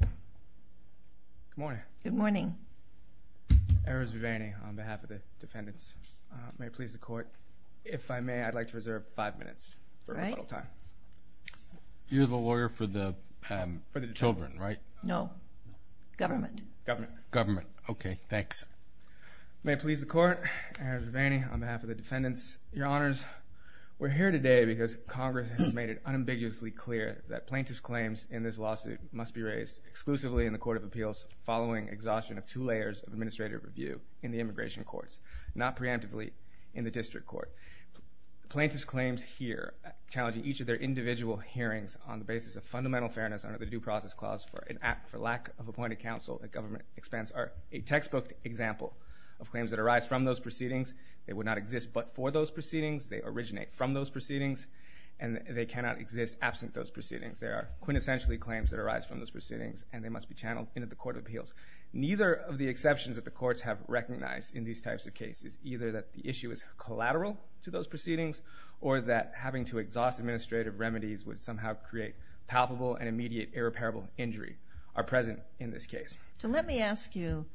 Good morning. Good morning. Eris Vivani on behalf of the defendants. May it please the court, if I may, I'd like to reserve five minutes for rebuttal time. You're the lawyer for the children, right? No. Government. Government. Government. Okay, thanks. May it please the court, Eris Vivani on behalf of the defendants, your honors, we're here today because Congress has made it unambiguously clear that plaintiff's claims in this lawsuit must be raised exclusively in the Court of Appeals following exhaustion of two layers of administrative review in the immigration courts, not preemptively in the district court. Plaintiff's claims here challenging each of their individual hearings on the basis of fundamental fairness under the due process clause for an act for lack of appointed counsel at government expense are a textbook example of claims that arise from those proceedings. They would not exist but for those proceedings. They originate from those proceedings and they cannot exist absent those proceedings. They are quintessentially claims that arise from those proceedings and they must be channeled into the Court of Appeals. Neither of the exceptions that the courts have recognized in these types of cases, either that the issue is collateral to those proceedings or that having to exhaust administrative remedies would somehow create palpable and immediate irreparable injury are present in this case. So let me ask you,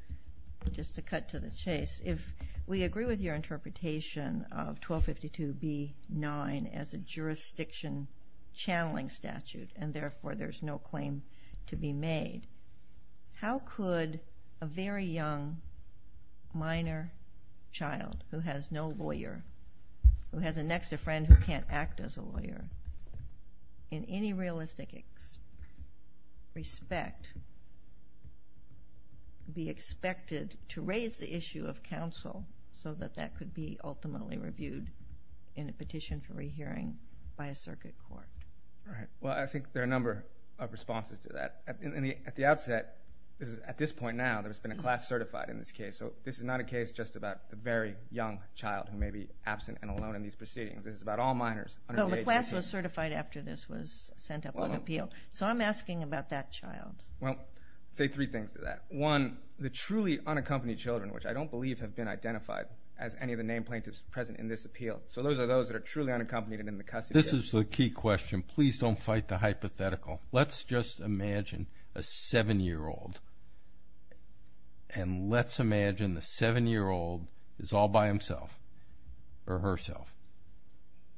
just to cut to the chase, if we agree with your interpretation of 1252 B. 9 as a jurisdiction channeling statute and therefore there's no claim to be made, how could a very young minor child who has no lawyer, who has a next of friend who can't act as a lawyer, in any realistic respect, be expected to raise the issue of counsel so that that could be ultimately reviewed in a petition for rehearing by a circuit court? Right. Well, I think there are a number of responses to that. At the outset, at this point now, there's been a class certified in this case. So this is not a case just about a very young child who may be absent and alone in these proceedings. This is about all minors under the age of 18. But Laplace was certified after this was sent up on appeal. So I'm asking about that child. Well, I'll say three things to that. One, the truly unaccompanied children, which I don't believe have been identified as any of the name plaintiffs present in this appeal, so those are those that are truly unaccompanied and in the custody. This is the key question. Please don't fight the hypothetical. Let's just imagine a seven-year-old and let's imagine the seven-year-old is all by himself or herself.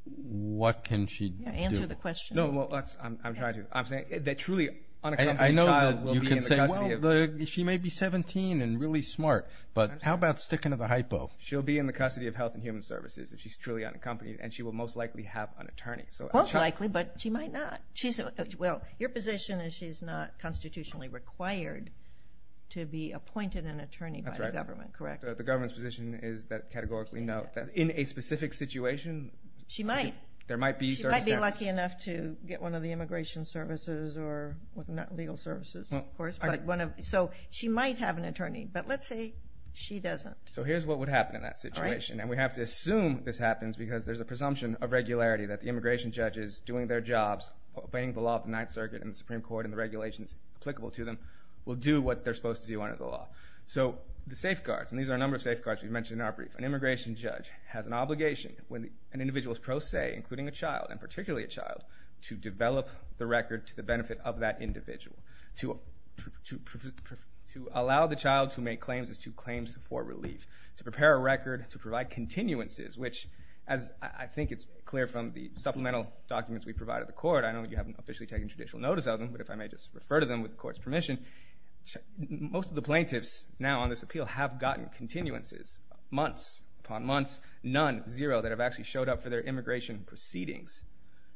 What can she do? Yeah, answer the question. No, well, I'm trying to. I'm saying that truly unaccompanied child will be in the custody of... I know that you can say, well, she may be 17 and really smart, but how about sticking to the hypo? She'll be in the custody of Health and Human Services if she's truly unaccompanied and she will most likely have an attorney. Most likely, but she might not. Well, your position is she's not constitutionally required to be appointed an attorney by the government, correct? That's right. The government's position is that categorically, no. In a specific situation... She might. There might be circumstances... She might be lucky enough to get one of the immigration services or legal services, of course. So she might have an attorney, but let's say she doesn't. So here's what would happen in that situation, and we have to assume this happens because there's a presumption of regularity that the immigration judge is doing their jobs, obeying the law of the Ninth Circuit and the Supreme Court and the regulations applicable to them, will do what they're supposed to do under the law. So the safeguards, and these are a number of safeguards we've mentioned in our brief. An immigration judge has an obligation when an individual is pro se, including a child, and particularly a child, to develop the record to the benefit of that individual, to allow the child to make claims as to claims for relief, to prepare a record, to provide continuances, which, as I think it's clear from the supplemental documents we provide at the court, I know you haven't officially taken judicial notice of them, but if I may just refer to them with the court's permission, most of the plaintiffs now on this appeal have gotten continuances. Months upon months, none, zero, that have actually showed up for their immigration proceedings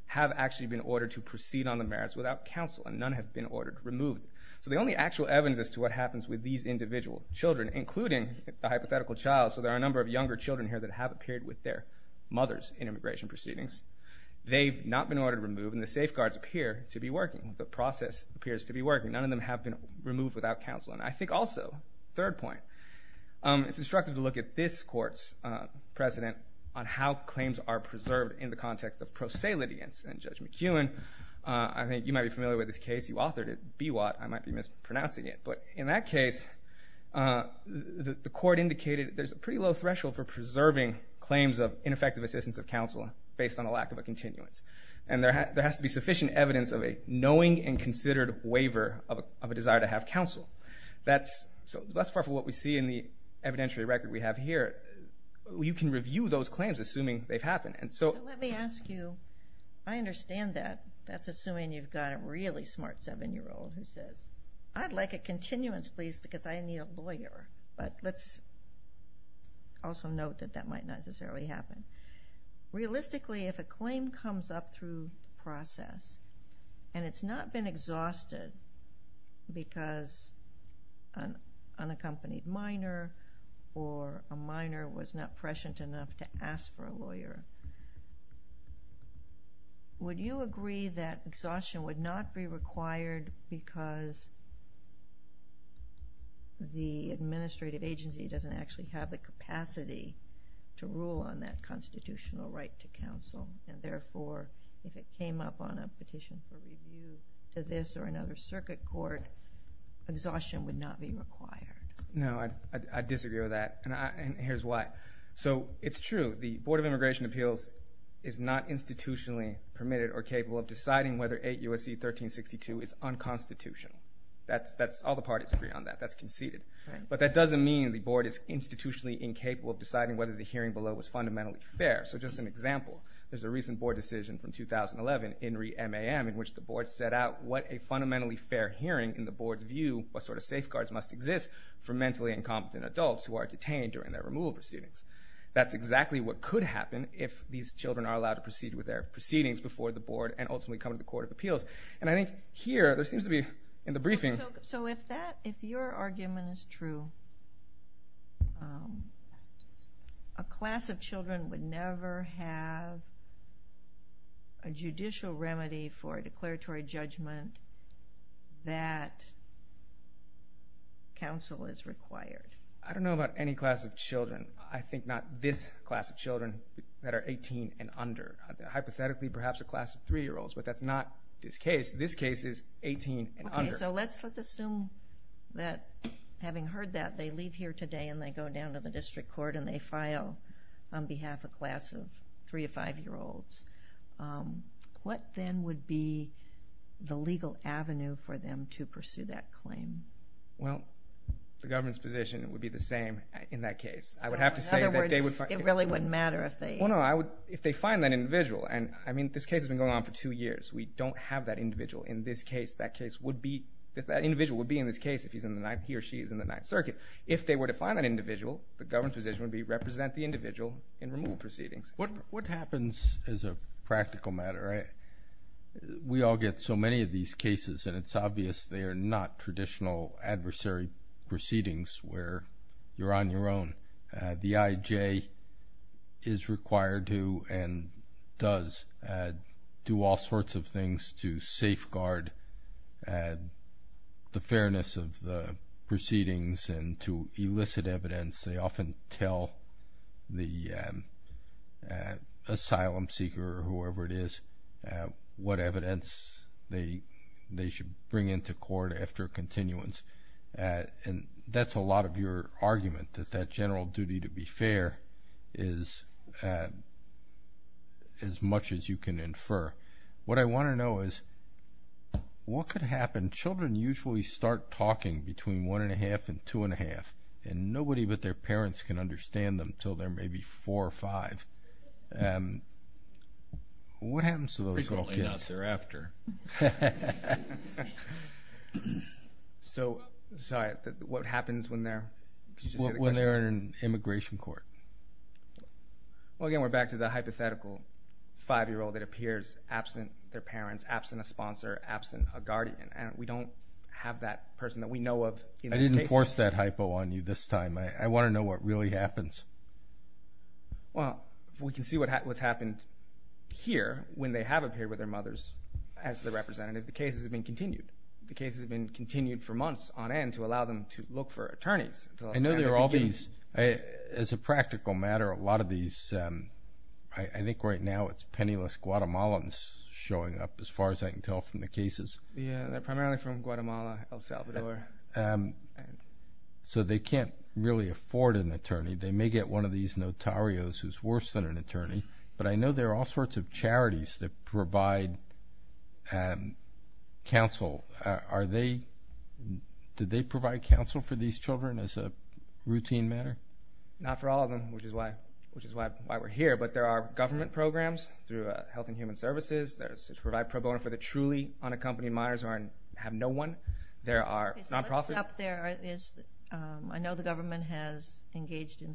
have actually been ordered to proceed on the merits without counsel, and none have been ordered removed. So the only actual evidence as to what happens with these individual children, including a hypothetical child, so there are a number of younger children here that have appeared with their mothers in immigration proceedings. They've not been ordered removed, and the safeguards appear to be working. The process appears to be working. None of them have been removed without counsel. And I think also, third point, it's instructive to look at this court's precedent on how claims are preserved in the context of pro se litigants. And Judge McEwen, I think you might be familiar with this case, you authored it, I might be mispronouncing it, but in that case the court indicated there's a pretty low threshold for preserving claims of ineffective assistance of counsel based on a lack of a continuance. And there has to be sufficient evidence of a knowing and considered waiver of a desire to have counsel. So less far from what we see in the evidentiary record we have here, you can review those claims assuming they've happened. So let me ask you, I understand that. That's assuming you've got a really smart 7-year-old who says, I'd like a continuance, please, because I need a lawyer. But let's also note that that might necessarily happen. Realistically, if a claim comes up through the process, and it's not been exhausted because an unaccompanied minor or a minor was not prescient enough to ask for a lawyer, would you agree that exhaustion would not be required because the administrative agency doesn't actually have the capacity to rule on that constitutional right to counsel? And therefore, if it came up on a petition for review to this or another circuit court, exhaustion would not be required? No, I disagree with that, and here's why. So it's true. The Board of Immigration Appeals is not institutionally permitted or capable of deciding whether 8 U.S.C. 1362 is unconstitutional. All the parties agree on that. That's conceded. But that doesn't mean the Board is institutionally incapable of deciding whether the hearing below was fundamentally fair. So just an example, there's a recent Board decision from 2011, INRI MAM, in which the Board set out what a fundamentally fair hearing in the Board's view, what sort of safeguards must exist for mentally incompetent adults who are detained during their removal proceedings. That's exactly what could happen if these children are allowed to proceed with their proceedings before the Board and ultimately come to the Court of Appeals. And I think here, there seems to be, in the briefing... So if that, if your argument is true, a class of children would never have a judicial remedy for a declaratory judgment that counsel is required? I don't know about any class of children. I think not this class of children that are 18 and under. Hypothetically, perhaps a class of 3-year-olds, but that's not this case. This case is 18 and under. Okay, so let's assume that, having heard that, they leave here today and they go down to the district court and they file on behalf of a class of 3- to 5-year-olds. What then would be the legal avenue for them to pursue that claim? Well, the government's position would be the same in that case. I would have to say that they would... So, in other words, it really wouldn't matter if they... Well, no, if they find that individual, and, I mean, this case has been going on for two years. We don't have that individual in this case. That case would be, that individual would be in this case if he or she is in the Ninth Circuit. If they were to find that individual, the government's position would be, represent the individual in removal proceedings. What happens as a practical matter? We all get so many of these cases, and it's obvious they are not traditional adversary proceedings where you're on your own. The IJ is required to and does do all sorts of things to safeguard the fairness of the proceedings and to elicit evidence. They often tell the asylum seeker or whoever it is what evidence they should bring into court after continuance. And that's a lot of your argument, that that general duty to be fair is as much as you can infer. What I want to know is, what could happen? Children usually start talking between one and a half and two and a half, and nobody but their parents can understand them until they're maybe four or five. What happens to those little kids? Frequently not there after. So, sorry, what happens when they're... When they're in immigration court? Well, again, we're back to the hypothetical five-year-old that appears absent their parents, absent a sponsor, absent a guardian, and we don't have that person that we know of in this case. I didn't force that hypo on you this time. I want to know what really happens. Well, we can see what's happened here when they have appeared with their mothers as the representative. The cases have been continued. The cases have been continued for months on end to allow them to look for attorneys. I know there are all these. As a practical matter, a lot of these, I think right now it's penniless Guatemalans showing up, as far as I can tell from the cases. Yeah, they're primarily from Guatemala, El Salvador. So they can't really afford an attorney. They may get one of these notarios who's worse than an attorney, but I know there are all sorts of charities that provide counsel. Are they... Did they provide counsel for these children as a routine matter? Not for all of them, which is why we're here, but there are government programs through Health and Human Services. There's Provide Pro Bono for the truly unaccompanied minors who have no one. There are non-profits. Okay, so what's up there is...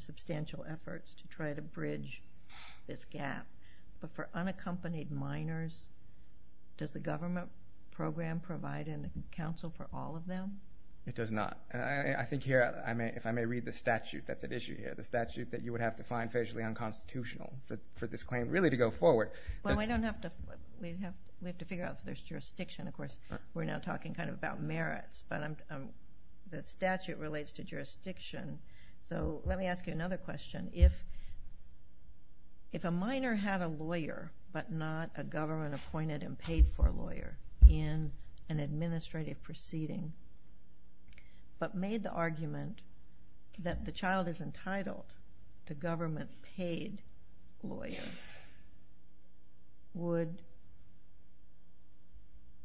substantial efforts to try to bridge this gap. But for unaccompanied minors, does the government program provide counsel for all of them? It does not. And I think here, if I may read the statute that's at issue here, the statute that you would have to find facially unconstitutional for this claim really to go forward. Well, we don't have to... We have to figure out if there's jurisdiction. Of course, we're now talking kind of about merits, but the statute relates to jurisdiction. So let me ask you another question. If a minor had a lawyer, but not a government-appointed and paid-for lawyer in an administrative proceeding, but made the argument that the child is entitled to government-paid lawyer, would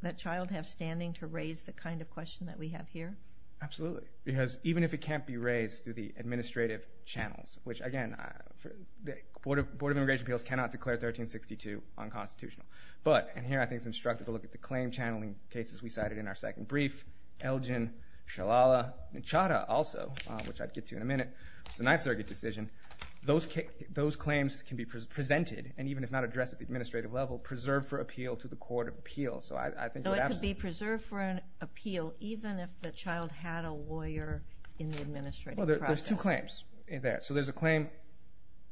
that child have standing to raise the kind of question that we have here? Absolutely. Because even if it can't be raised through the administrative channels, which again, the Board of Immigration Appeals cannot declare 1362 unconstitutional. But, and here I think it's instructive to look at the claim channeling cases we cited in our second brief, Elgin, Shalala, and Chadha also, which I'll get to in a minute, the Ninth Circuit decision, those claims can be presented, and even if not addressed at the administrative level, preserved for appeal to the Court of Appeals. So I think... So it could be preserved for an appeal even if the child had a lawyer in the administrative process. Well, there's two claims there. So there's a claim,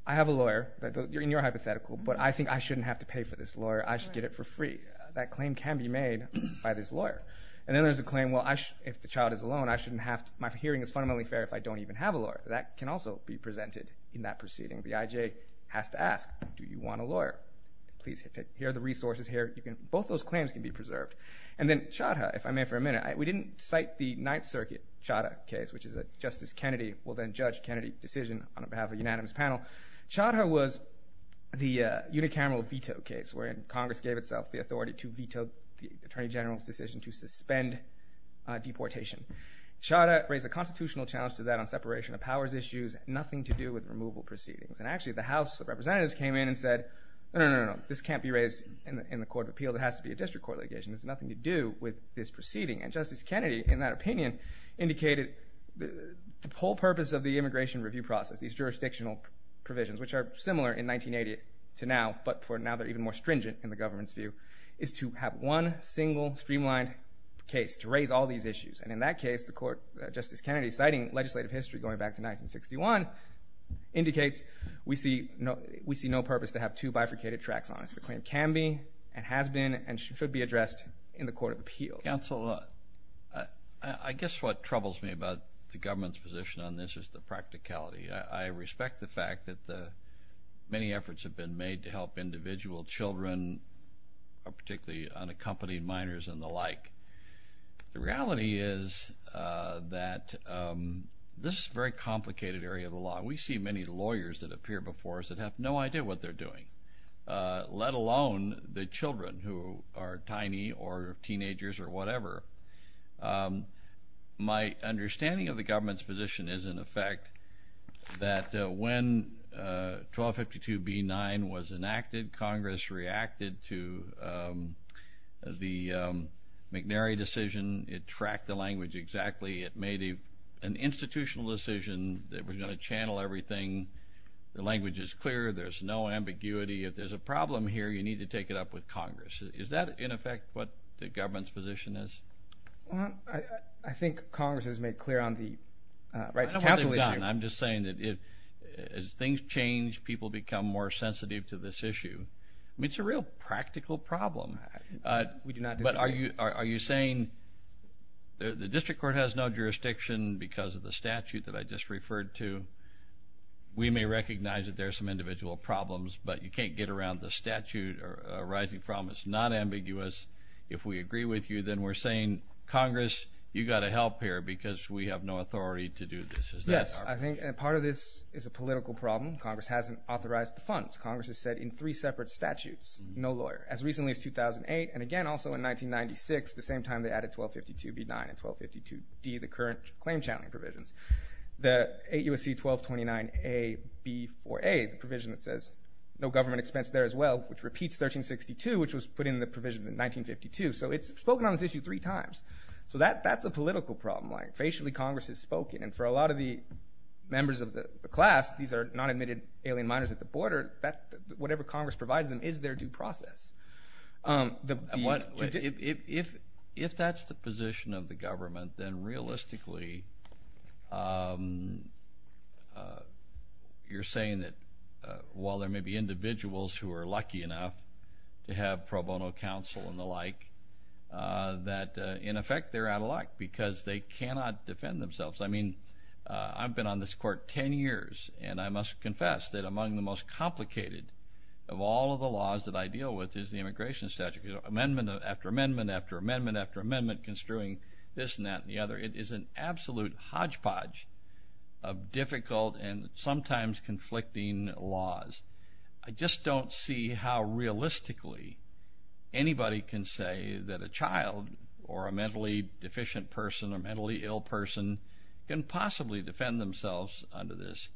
I have a lawyer, in your hypothetical, but I think I shouldn't have to pay for this lawyer, I should get it for free. That claim can be made by this lawyer. And then there's a claim, well, if the child is alone, I shouldn't have to, my hearing is fundamentally fair if I don't even have a lawyer. That can also be presented in that proceeding. The IJ has to ask, do you want a lawyer? Please, here are the resources here. Both those claims can be preserved. And then Chadha, if I may for a minute, we didn't cite the Ninth Circuit Chadha case, which is a Justice Kennedy will then judge Kennedy decision on behalf of a unanimous panel. Chadha was the unicameral veto case wherein Congress gave itself the authority to veto the Attorney General's decision to suspend deportation. Chadha raised a constitutional challenge to that on separation of powers issues, nothing to do with removal proceedings. And actually the House of Representatives came in and said, no, no, no, no, no, this can't be raised in the Court of Appeals, it has to be a district court litigation, it has nothing to do with this proceeding. And Justice Kennedy, in that opinion, indicated the whole purpose of the immigration review process, these jurisdictional provisions, which are similar in 1980 to now, but for now they're even more stringent in the government's view, is to have one single streamlined case to raise all these issues. And in that case, the Court, Justice Kennedy citing legislative history going back to 1961, indicates we see no purpose to have two bifurcated tracks on this. The claim can be and has been and should be addressed in the Court of Appeals. Counsel, I guess what troubles me about the government's position on this is the practicality. I respect the fact that many efforts have been made to help individual children, particularly unaccompanied minors and the like. The reality is that this is a very complicated area of the law. We see many lawyers that appear before us that have no idea what they're doing, let alone the children who are tiny or teenagers or whatever. My understanding of the government's position is, in effect, that when 1252b-9 was enacted, Congress reacted to the McNary decision. It tracked the language exactly. It made an institutional decision that was going to channel everything. The language is clear. There's no ambiguity. If there's a problem here, you need to take it up with Congress. Is that, in effect, what the government's position is? Well, I think Congress has made clear on the rights to counsel issue. I don't know what they've done. I'm just saying that as things change, people become more sensitive to this issue. I mean, it's a real practical problem. We do not disagree. But are you saying the district court has no jurisdiction because of the statute that I just referred to? We may recognize that there are some individual problems, but you can't get around the statute arising from it. It's not ambiguous. If we agree with you, then we're saying, Congress, you've got to help here because we have no authority to do this. Is that correct? Yes, I think part of this is a political problem. Congress hasn't authorized the funds. Congress has said in three separate statutes, no lawyer, as recently as 2008, and again also in 1996, the same time they added 1252b-9 and 1252d, the current claim-channeling provisions. The 8 U.S.C. 1229a-b-4a, the provision that says no government expense there as well, which repeats 1362, which was put in the provisions in 1952. So it's spoken on this issue three times. So that's a political problem. Facially, Congress has spoken. And for a lot of the members of the class, these are non-admitted alien minors at the border, whatever Congress provides them is their due process. If that's the position of the government, then realistically you're saying that while there may be individuals who are lucky enough to have pro bono counsel and the like, that in effect they're out of luck because they cannot defend themselves. I mean, I've been on this court 10 years, and I must confess that among the most complicated of all of the laws that I deal with is the immigration statute. Amendment after amendment after amendment after amendment construing this and that and the other. It is an absolute hodgepodge of difficult and sometimes conflicting laws. I just don't see how realistically anybody can say that a child or a mentally deficient person or a mentally ill person can possibly defend themselves under this.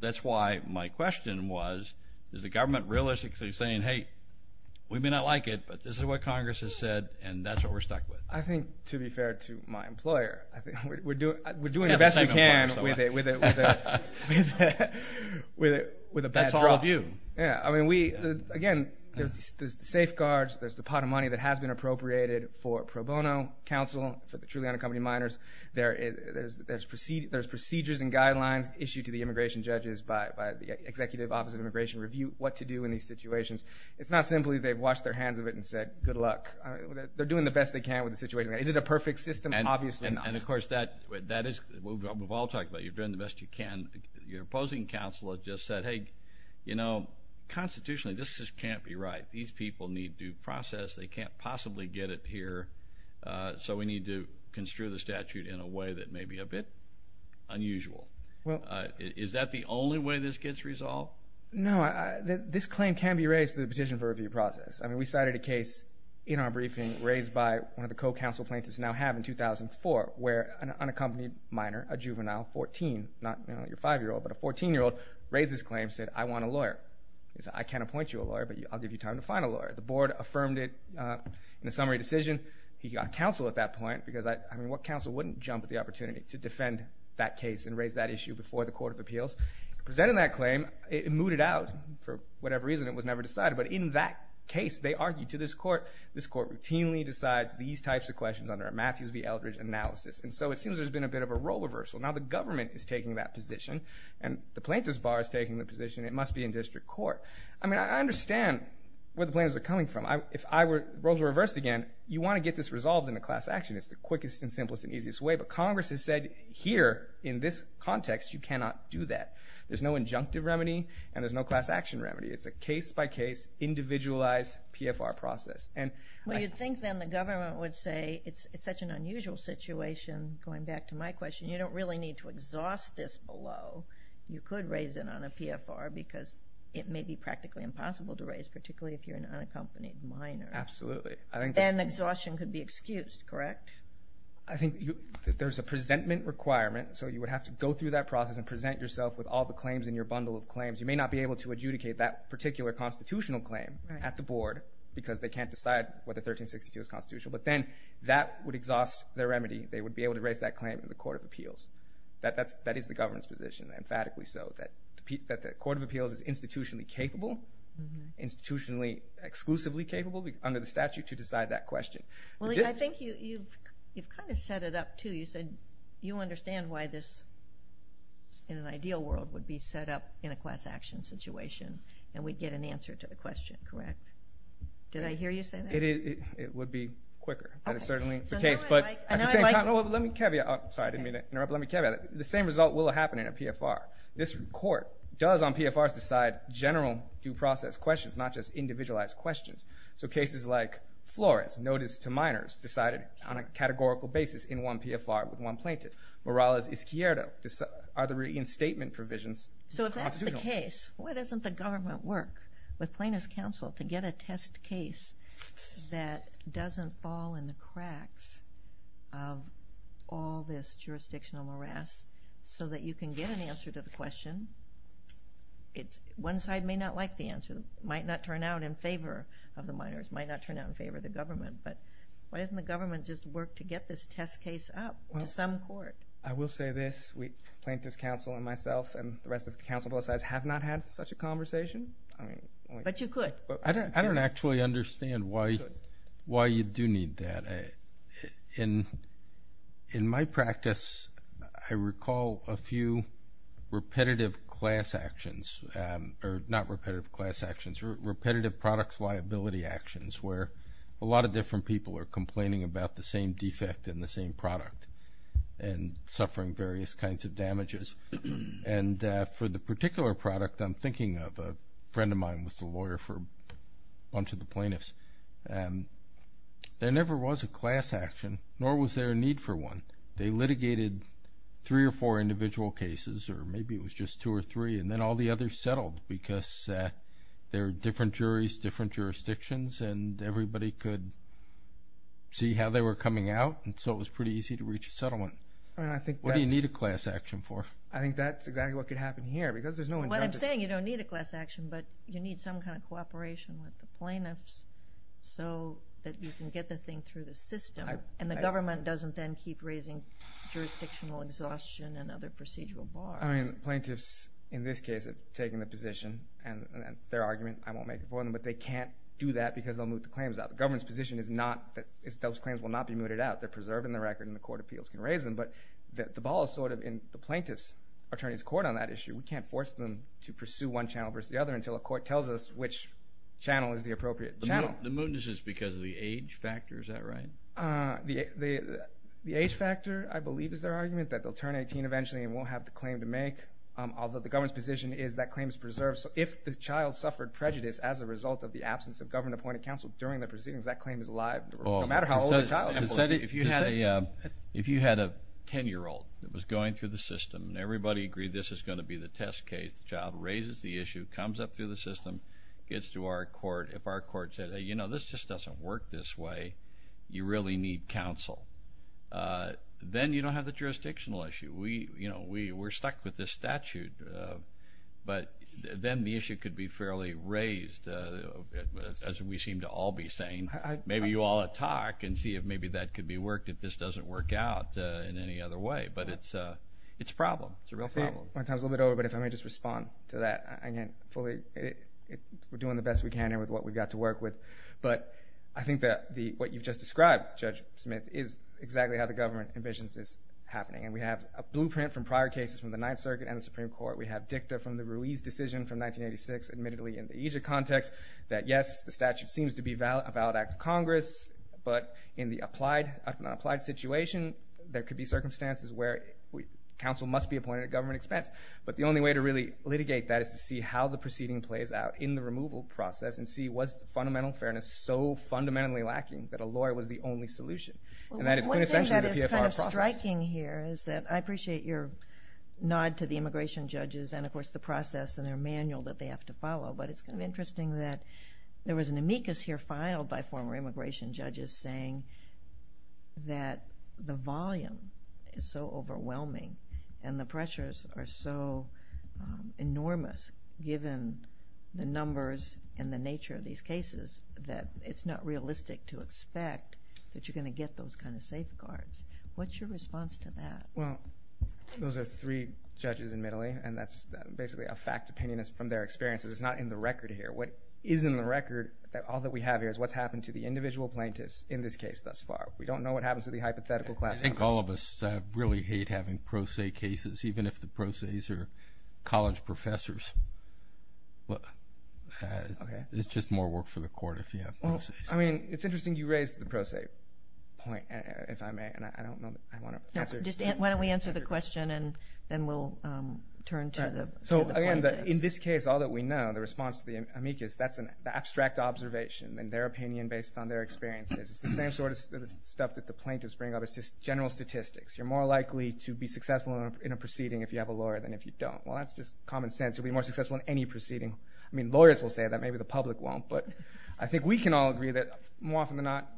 That's why my question was, is the government realistically saying, hey, we may not like it, but this is what Congress has said, and that's what we're stuck with. I think, to be fair to my employer, we're doing the best we can with a bad draw. That's all of you. Yeah, I mean, again, there's the safeguards, there's the pot of money that has been appropriated for pro bono counsel for the Truliano Company minors. There's procedures and guidelines issued to the immigration judges by the Executive Office of Immigration Review what to do in these situations. It's not simply they've washed their hands of it and said, good luck. They're doing the best they can with the situation. Is it a perfect system? Obviously not. And, of course, that is what we've all talked about. You're doing the best you can. Your opposing counsel has just said, hey, you know, constitutionally this just can't be right. These people need due process. They can't possibly get it here, so we need to construe the statute in a way that may be a bit unusual. Is that the only way this gets resolved? No, this claim can be raised through the petition for review process. I mean, we cited a case in our briefing raised by one of the co-counsel plaintiffs we now have in 2004 where an unaccompanied minor, a juvenile, 14, not your 5-year-old, but a 14-year-old, raised this claim and said, I want a lawyer. He said, I can't appoint you a lawyer, but I'll give you time to find a lawyer. The board affirmed it in a summary decision. He got counsel at that point because, I mean, what counsel wouldn't jump at the opportunity to defend that case and raise that issue before the Court of Appeals? Presenting that claim, it mooted out for whatever reason. It was never decided. But in that case, they argued to this court. This court routinely decides these types of questions under a Matthews v. Eldridge analysis. And so it seems there's been a bit of a role reversal. Now the government is taking that position and the plaintiff's bar is taking the position. It must be in district court. I mean, I understand where the plaintiffs are coming from. If roles were reversed again, you want to get this resolved in a class action. It's the quickest and simplest and easiest way. But Congress has said, here, in this context, you cannot do that. There's no injunctive remedy and there's no class action remedy. It's a case-by-case, individualized PFR process. Well, you'd think then the government would say, it's such an unusual situation, going back to my question, you don't really need to exhaust this below. You could raise it on a PFR because it may be practically impossible to raise, particularly if you're an unaccompanied minor. Absolutely. And exhaustion could be excused, correct? I think there's a presentment requirement. and present yourself with all the claims in your bundle of claims. You may not be able to adjudicate that particular constitutional claim at the board because they can't decide whether 1362 is constitutional, but then that would exhaust their remedy. They would be able to raise that claim in the Court of Appeals. That is the government's position, emphatically so, that the Court of Appeals is institutionally capable, institutionally exclusively capable, under the statute, to decide that question. Well, I think you've kind of set it up, too. You said you understand why this, in an ideal world, would be set up in a class action situation and we'd get an answer to the question, correct? Did I hear you say that? It would be quicker, but it's certainly the case. I know I like it. Let me caveat. Sorry, I didn't mean to interrupt. Let me caveat. The same result will happen in a PFR. This Court does on PFRs decide general due process questions, not just individualized questions. So cases like Flores, notice to minors, decided on a categorical basis in one PFR with one plaintiff. Morales-Izquierdo are the reinstatement provisions of the Constitution. So if that's the case, why doesn't the government work with plaintiffs' counsel to get a test case that doesn't fall in the cracks of all this jurisdictional morass so that you can get an answer to the question? One side may not like the answer, might not turn out in favor of the minors, might not turn out in favor of the government, but why doesn't the government just work to get this test case up to some court? I will say this. Plaintiffs' counsel and myself and the rest of the counsel on both sides have not had such a conversation. But you could. I don't actually understand why you do need that. In my practice, I recall a few repetitive class actions, or not repetitive class actions, repetitive products liability actions where a lot of different people are complaining about the same defect in the same product and suffering various kinds of damages. And for the particular product I'm thinking of, a friend of mine was the lawyer for a bunch of the plaintiffs. There never was a class action, nor was there a need for one. They litigated three or four individual cases, or maybe it was just two or three, and then all the others settled because there were different juries, different jurisdictions, and everybody could see how they were coming out, and so it was pretty easy to reach a settlement. What do you need a class action for? I think that's exactly what could happen here. What I'm saying, you don't need a class action, but you need some kind of cooperation with the plaintiffs so that you can get the thing through the system, and the government doesn't then keep raising jurisdictional exhaustion and other procedural bars. Plaintiffs, in this case, have taken the position, and it's their argument, I won't make it for them, but they can't do that because they'll move the claims out. The government's position is those claims will not be mooted out. They're preserved in the record, and the court appeals can raise them, but the ball is sort of in the plaintiff's attorney's court on that issue. We can't force them to pursue one channel versus the other until a court tells us which channel is the appropriate channel. The mootness is because of the age factor, is that right? The age factor, I believe, is their argument, that they'll turn 18 eventually and won't have the claim to make, although the government's position is that claim is preserved. So if the child suffered prejudice as a result of the absence of government-appointed counsel during the proceedings, that claim is alive, no matter how old the child is. If you had a 10-year-old that was going through the system and everybody agreed this is going to be the test case, the child raises the issue, comes up through the system, gets to our court. If our court said, you know, this just doesn't work this way, you really need counsel, then you don't have the jurisdictional issue. We're stuck with this statute, but then the issue could be fairly raised. As we seem to all be saying, maybe you ought to talk and see if maybe that could be worked if this doesn't work out in any other way. But it's a problem. It's a real problem. My time's a little bit over, but if I may just respond to that. We're doing the best we can here with what we've got to work with. But I think that what you've just described, Judge Smith, is exactly how the government envisions this happening. We have a blueprint from prior cases from the Ninth Circuit and the Supreme Court. We have dicta from the Ruiz decision from 1986, admittedly in the EASA context, that yes, the statute seems to be a valid act of Congress, but in the applied situation, there could be circumstances where counsel must be appointed at government expense. But the only way to really litigate that is to see how the proceeding plays out in the removal process and see was the fundamental fairness so fundamentally lacking that a lawyer was the only solution. And that is quintessentially the PFR process. One thing that is kind of striking here is that I appreciate your nod to the immigration judges and, of course, the process and their manual that they have to follow, but it's kind of interesting that there was an amicus here filed by former immigration judges saying that the volume is so overwhelming and the pressures are so enormous given the numbers and the nature of these cases that it's not realistic to expect that you're going to get those kind of safeguards. What's your response to that? Well, those are three judges admittedly, and that's basically a fact depending from their experiences. It's not in the record here. What is in the record, all that we have here, is what's happened to the individual plaintiffs in this case thus far. We don't know what happens to the hypothetical class. I think all of us really hate having pro se cases, even if the pro ses are college professors. It's just more work for the court if you have pro ses. I mean, it's interesting you raised the pro se point, if I may, and I don't know that I want to answer. Why don't we answer the question, and then we'll turn to the plaintiffs. So, again, in this case, all that we know, the response to the amicus, that's an abstract observation and their opinion based on their experiences. It's the same sort of stuff that the plaintiffs bring up. It's just general statistics. You're more likely to be successful in a proceeding if you have a lawyer than if you don't. Well, that's just common sense. You'll be more successful in any proceeding. I mean, lawyers will say that. Maybe the public won't. But I think we can all agree that more often than not,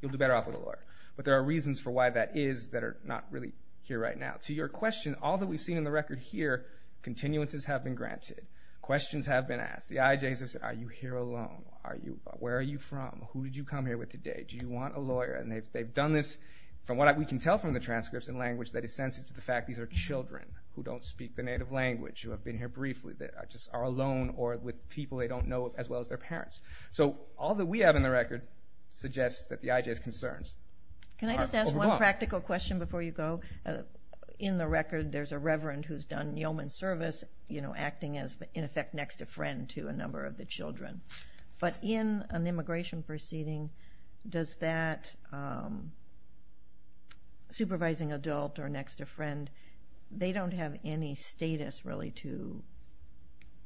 you'll do better off with a lawyer. But there are reasons for why that is that are not really here right now. To your question, all that we've seen in the record here, continuances have been granted. Questions have been asked. The IJs have said, are you here alone? Where are you from? Who did you come here with today? Do you want a lawyer? And they've done this, from what we can tell from the transcripts and language, that is sensitive to the fact these are children who don't speak the native language, who have been here briefly, that just are alone, or with people they don't know as well as their parents. So all that we have in the record suggests that the IJ's concerns are overblown. Just one practical question before you go. In the record, there's a reverend who's done yeoman service, acting as, in effect, next of friend to a number of the children. But in an immigration proceeding, does that supervising adult or next of friend, they don't have any status really to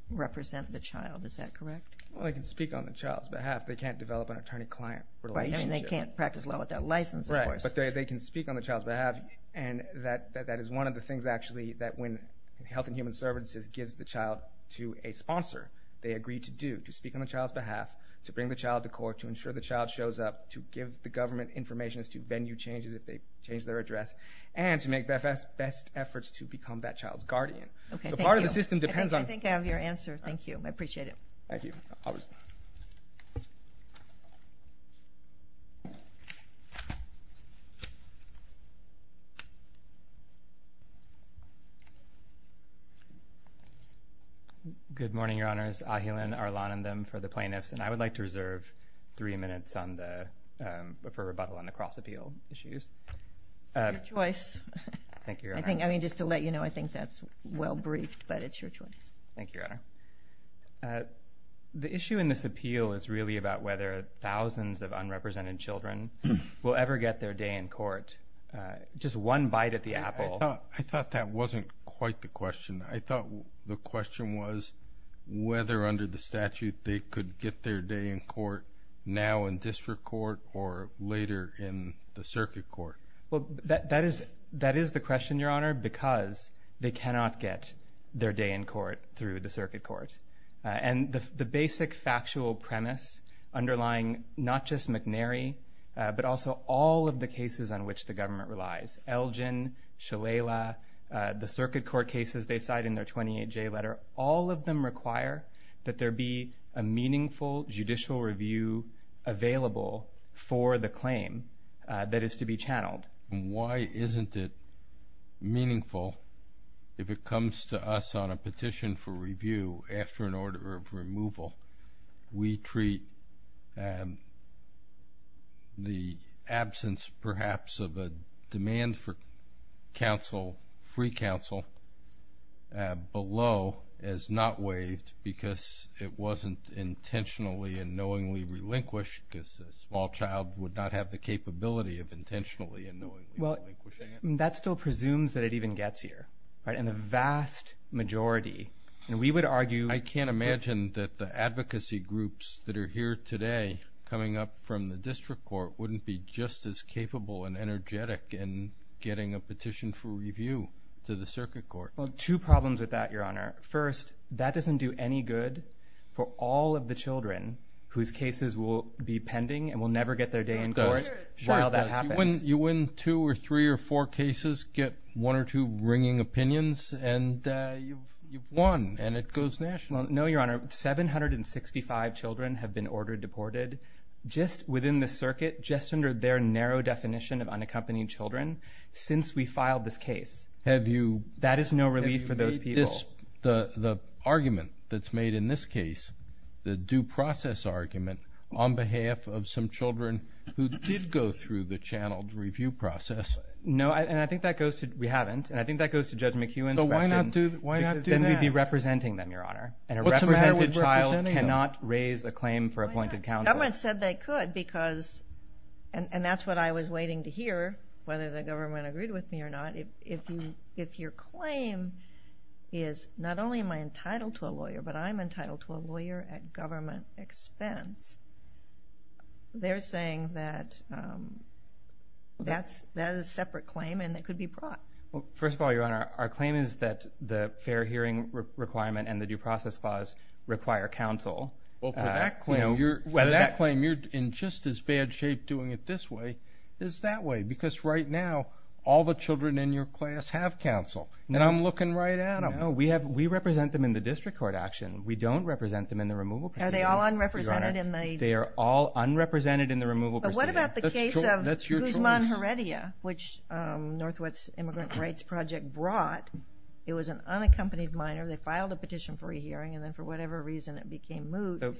represent the child. Is that correct? Well, they can speak on the child's behalf. They can't develop an attorney-client relationship. And they can't practice law without a license, of course. Right, but they can speak on the child's behalf, and that is one of the things, actually, that when Health and Human Services gives the child to a sponsor, they agree to do, to speak on the child's behalf, to bring the child to court, to ensure the child shows up, to give the government information as to venue changes if they change their address, and to make the best efforts to become that child's guardian. Okay, thank you. I think I have your answer. Thank you. I appreciate it. Thank you. Thank you. Good morning, Your Honors. Ahilan Arlanandam for the plaintiffs, and I would like to reserve three minutes for rebuttal on the cross-appeal issues. It's your choice. Thank you, Your Honor. I mean, just to let you know, I think that's well-briefed, but it's your choice. Thank you, Your Honor. The issue in this appeal is really about whether thousands of unrepresented children will ever get their day in court. Just one bite at the apple. I thought that wasn't quite the question. I thought the question was whether, under the statute, they could get their day in court now in district court or later in the circuit court. Well, that is the question, Your Honor, because they cannot get their day in court through the circuit court. And the basic factual premise underlying not just McNary, but also all of the cases on which the government relies, Elgin, Shalala, the circuit court cases they cite in their 28-J letter, all of them require that there be a meaningful judicial review available for the claim that is to be channeled. Why isn't it meaningful if it comes to us on a petition for review after an order of removal? We treat the absence, perhaps, of a demand for free counsel below as not waived because it wasn't intentionally and knowingly relinquished because a small child would not have the capability of intentionally and knowingly relinquishing it. That still presumes that it even gets here in the vast majority. I can't imagine that the advocacy groups that are here today coming up from the district court wouldn't be just as capable and energetic in getting a petition for review to the circuit court. Two problems with that, Your Honor. First, that doesn't do any good for all of the children whose cases will be pending and will never get their day in court while that happens. You win two or three or four cases, get one or two ringing opinions, and you've won, and it goes national. No, Your Honor. 765 children have been ordered deported just within the circuit, just under their narrow definition of unaccompanied children since we filed this case. That is no relief for those people. That's the argument that's made in this case, the due process argument, on behalf of some children who did go through the channeled review process. No, and I think that goes to, we haven't, and I think that goes to Judge McEwen's question. So why not do that? Then we'd be representing them, Your Honor, and a represented child cannot raise a claim for appointed counsel. Government said they could because, and that's what I was waiting to hear, whether the government agreed with me or not. If your claim is not only am I entitled to a lawyer, but I'm entitled to a lawyer at government expense, they're saying that that is a separate claim and it could be brought. Well, first of all, Your Honor, our claim is that the fair hearing requirement and the due process clause require counsel. Well, for that claim, you're in just as bad shape doing it this way as that way because right now all the children in your class have counsel, and I'm looking right at them. No, we represent them in the district court action. We don't represent them in the removal proceedings. Are they all unrepresented in the? They are all unrepresented in the removal proceedings. But what about the case of Guzman Heredia, which Northwood's Immigrant Rights Project brought? It was an unaccompanied minor. They filed a petition for a hearing, and then for whatever reason it became moot.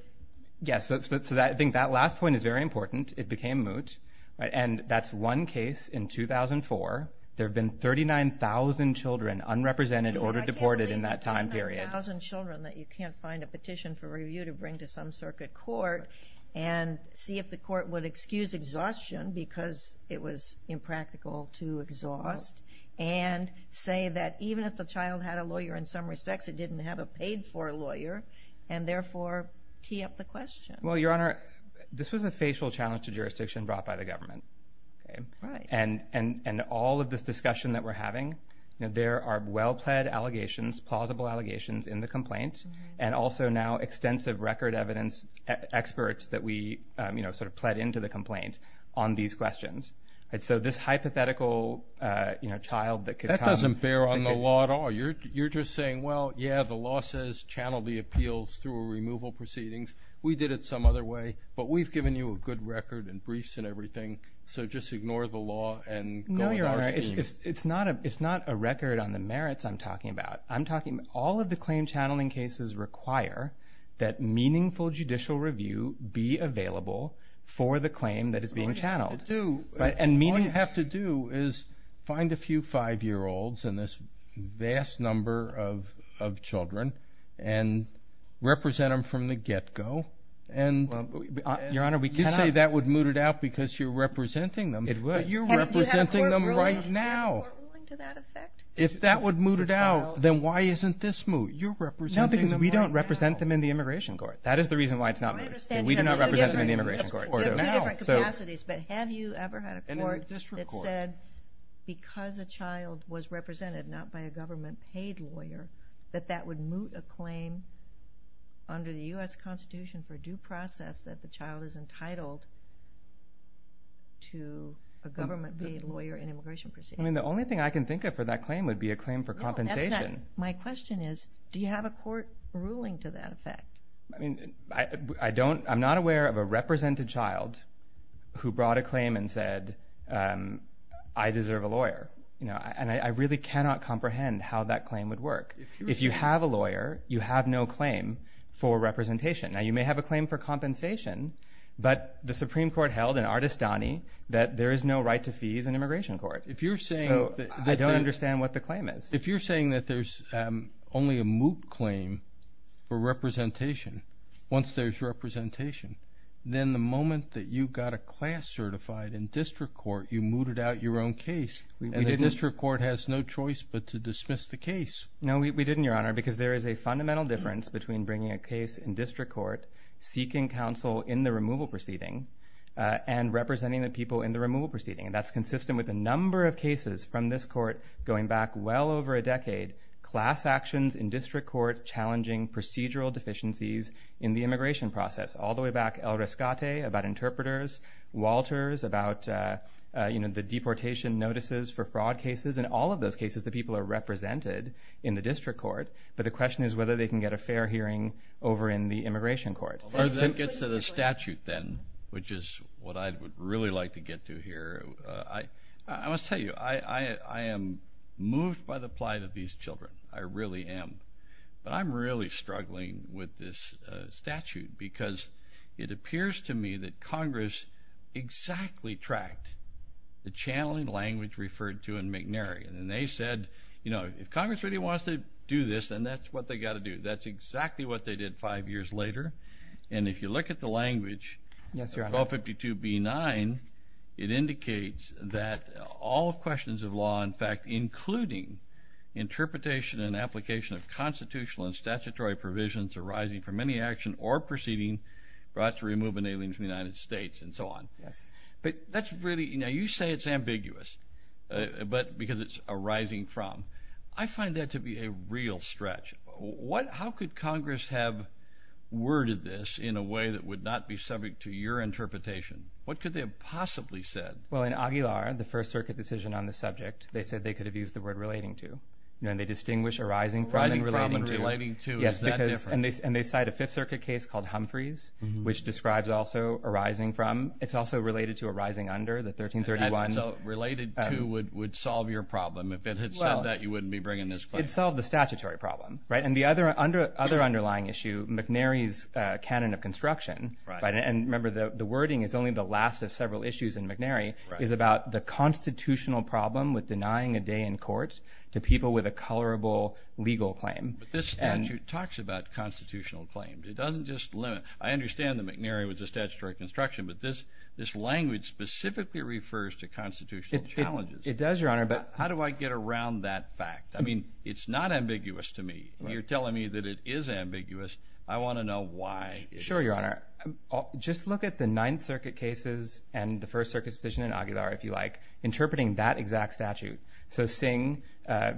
Yes, so I think that last point is very important. It became moot, and that's one case in 2004. There have been 39,000 children unrepresented, ordered deported in that time period. I can't believe 39,000 children that you can't find a petition for review to bring to some circuit court and see if the court would excuse exhaustion because it was impractical to exhaust and say that even if the child had a lawyer in some respects, it didn't have a paid-for lawyer, and therefore tee up the question. Well, Your Honor, this was a facial challenge to jurisdiction brought by the government. Right. And all of this discussion that we're having, there are well-pled allegations, plausible allegations in the complaint, and also now extensive record evidence experts that we sort of pled into the complaint on these questions. So this hypothetical child that could come. That doesn't bear on the law at all. You're just saying, well, yeah, the law says channel the appeals through removal proceedings. We did it some other way, but we've given you a good record and briefs and everything, so just ignore the law and go with our scheme. No, Your Honor, it's not a record on the merits I'm talking about. I'm talking all of the claim channeling cases require that meaningful judicial review be available for the claim that is being channeled. What you have to do is find a few five-year-olds and this vast number of children and represent them from the get-go. Your Honor, we can't. You say that would moot it out because you're representing them. It would. You're representing them right now. You have a court ruling to that effect? If that would moot it out, then why isn't this moot? You're representing them right now. No, because we don't represent them in the Immigration Court. That is the reason why it's not mooted. We do not represent them in the Immigration Court. There are two different capacities, but have you ever had a court that said because a child was represented, not by a government-paid lawyer, that that would moot a claim under the U.S. Constitution for due process that the child is entitled to a government-paid lawyer in immigration proceedings? The only thing I can think of for that claim would be a claim for compensation. My question is, do you have a court ruling to that effect? I mean, I don't. I'm not aware of a represented child who brought a claim and said, I deserve a lawyer, and I really cannot comprehend how that claim would work. If you have a lawyer, you have no claim for representation. Now, you may have a claim for compensation, but the Supreme Court held in Ardestani that there is no right to fees in Immigration Court. So I don't understand what the claim is. If you're saying that there's only a moot claim for representation, once there's representation, then the moment that you got a class certified in district court, you mooted out your own case, and the district court has no choice but to dismiss the case. No, we didn't, Your Honor, because there is a fundamental difference between bringing a case in district court, seeking counsel in the removal proceeding, and representing the people in the removal proceeding. And that's consistent with a number of cases from this court going back well over a decade, class actions in district court challenging procedural deficiencies in the immigration process, all the way back El Rescate about interpreters, Walters about the deportation notices for fraud cases, and all of those cases the people are represented in the district court. But the question is whether they can get a fair hearing over in the Immigration Court. That gets to the statute then, which is what I would really like to get to here. I must tell you, I am moved by the plight of these children. I really am. But I'm really struggling with this statute because it appears to me that Congress exactly tracked the channeling language referred to in McNary. And they said, you know, if Congress really wants to do this, then that's what they've got to do. That's exactly what they did five years later. And if you look at the language, 1252B9, it indicates that all questions of law, in fact, including interpretation and application of constitutional and statutory provisions arising from any action or proceeding brought to removal in the United States and so on. But that's really, you know, you say it's ambiguous because it's arising from. I find that to be a real stretch. How could Congress have worded this in a way that would not be subject to your interpretation? What could they have possibly said? Well, in Aguilar, the First Circuit decision on the subject, they said they could have used the word relating to, you know, and they distinguish arising from and relating to. Arising from and relating to, is that different? Yes, and they cite a Fifth Circuit case called Humphreys, which describes also arising from. It's also related to arising under, the 1331. Related to would solve your problem. If it had said that, you wouldn't be bringing this claim. It would solve the statutory problem, right? And the other underlying issue, McNary's Canon of Construction, and remember the wording is only the last of several issues in McNary, is about the constitutional problem with denying a day in court to people with a colorable legal claim. But this statute talks about constitutional claims. It doesn't just limit. I understand that McNary was a statutory construction, but this language specifically refers to constitutional challenges. It does, Your Honor. How do I get around that fact? I mean, it's not ambiguous to me. You're telling me that it is ambiguous. I want to know why it is. Sure, Your Honor. Just look at the Ninth Circuit cases and the First Circuit decision in Aguilar, if you like, interpreting that exact statute. So Singh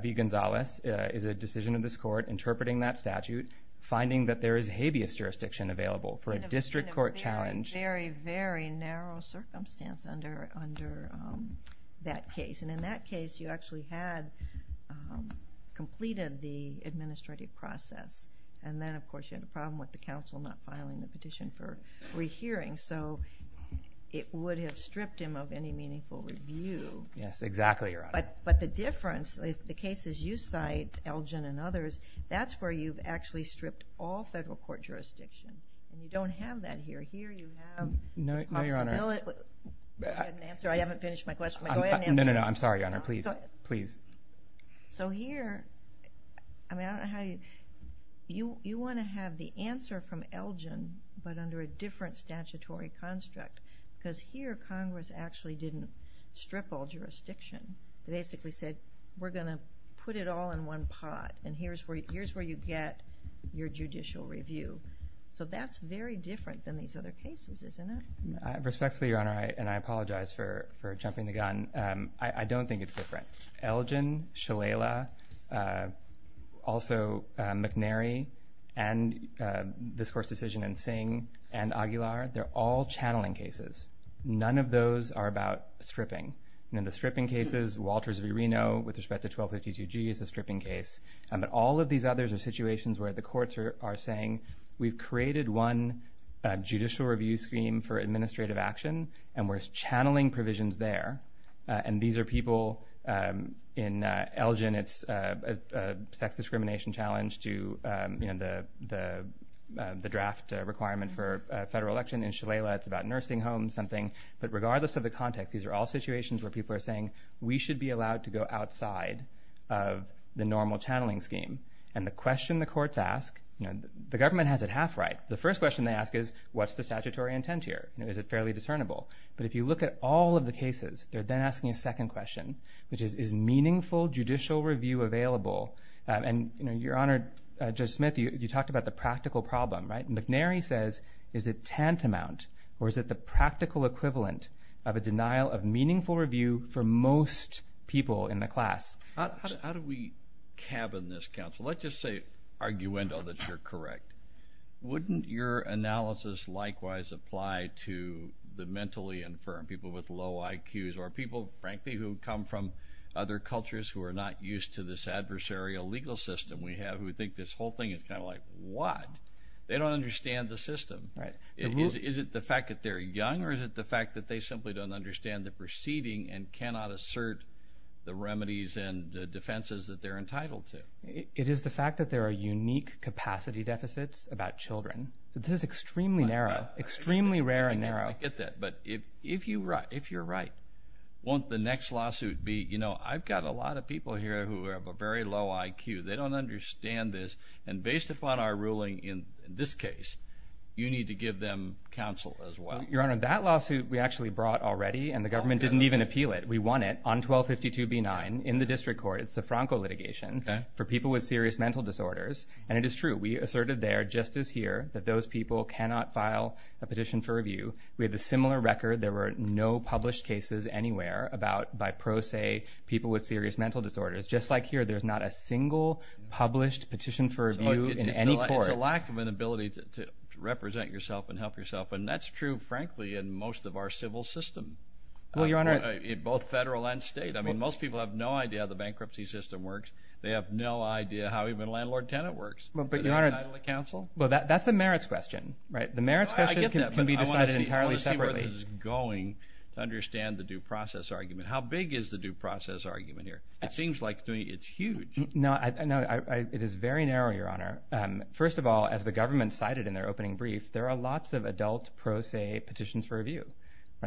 v. Gonzales is a decision of this court interpreting that statute, finding that there is habeas jurisdiction available for a district court challenge. In a very, very, very narrow circumstance under that case. And in that case, you actually had completed the administrative process. And then, of course, you had a problem with the counsel not filing the petition for rehearing. So it would have stripped him of any meaningful review. Yes, exactly, Your Honor. But the difference, the cases you cite, Elgin and others, that's where you've actually stripped all federal court jurisdiction. And you don't have that here. Here you have the possibility. No, Your Honor. Go ahead and answer. I haven't finished my question. No, no, no. I'm sorry, Your Honor. Please, please. So here... I mean, I don't know how you... You want to have the answer from Elgin, but under a different statutory construct. Because here, Congress actually didn't strip all jurisdiction. They basically said, we're going to put it all in one pot. And here's where you get your judicial review. So that's very different than these other cases, isn't it? Respectfully, Your Honor, and I apologize for jumping the gun, I don't think it's different. Elgin, Shalala, also McNary and this Court's decision in Singh and Aguilar, they're all channeling cases. None of those are about stripping. And in the stripping cases, Walters v. Reno with respect to 1252G is a stripping case. But all of these others are situations where the courts are saying, we've created one judicial review scheme for administrative action, and we're channeling provisions there. And these are people in Elgin. It's a sex discrimination challenge to the draft requirement for a federal election. In Shalala, it's about nursing homes, something. But regardless of the context, these are all situations where people are saying, we should be allowed to go outside of the normal channeling scheme. And the question the courts ask, the government has it half right. The first question they ask is, what's the statutory intent here? Is it fairly discernible? But if you look at all of the cases, they're then asking a second question, which is, is meaningful judicial review available? And, Your Honor, Judge Smith, you talked about the practical problem, right? McNary says, is it tantamount or is it the practical equivalent of a denial of meaningful review for most people in the class? How do we cabin this, counsel? Let's just say arguendo that you're correct. Wouldn't your analysis likewise apply to the mentally infirm, people with low IQs, or people, frankly, who come from other cultures who are not used to this adversarial legal system we have who think this whole thing is kind of like what? They don't understand the system. Is it the fact that they're young, or is it the fact that they simply don't understand the proceeding and cannot assert the remedies and defenses that they're entitled to? It is the fact that there are unique capacity deficits about children. This is extremely narrow, extremely rare and narrow. I get that, but if you're right, won't the next lawsuit be, you know, I've got a lot of people here who have a very low IQ. They don't understand this, and based upon our ruling in this case, you need to give them counsel as well. Your Honor, that lawsuit we actually brought already, and the government didn't even appeal it. We won it on 1252b9 in the district court. It's a Franco litigation for people with serious mental disorders, and it is true. We asserted there, just as here, that those people cannot file a petition for review. We have a similar record. There were no published cases anywhere by pro se people with serious mental disorders. Just like here, there's not a single published petition for review in any court. It's a lack of an ability to represent yourself and help yourself, and that's true, frankly, in most of our civil system, both federal and state. I mean, most people have no idea how the bankruptcy system works. They have no idea how even landlord-tenant works. But, Your Honor, that's a merits question, right? The merits question can be decided entirely separately. I want to see where this is going to understand the due process argument. How big is the due process argument here? It seems like it's huge. No, it is very narrow, Your Honor. First of all, as the government cited in their opening brief, there are lots of adult pro se petitions for review.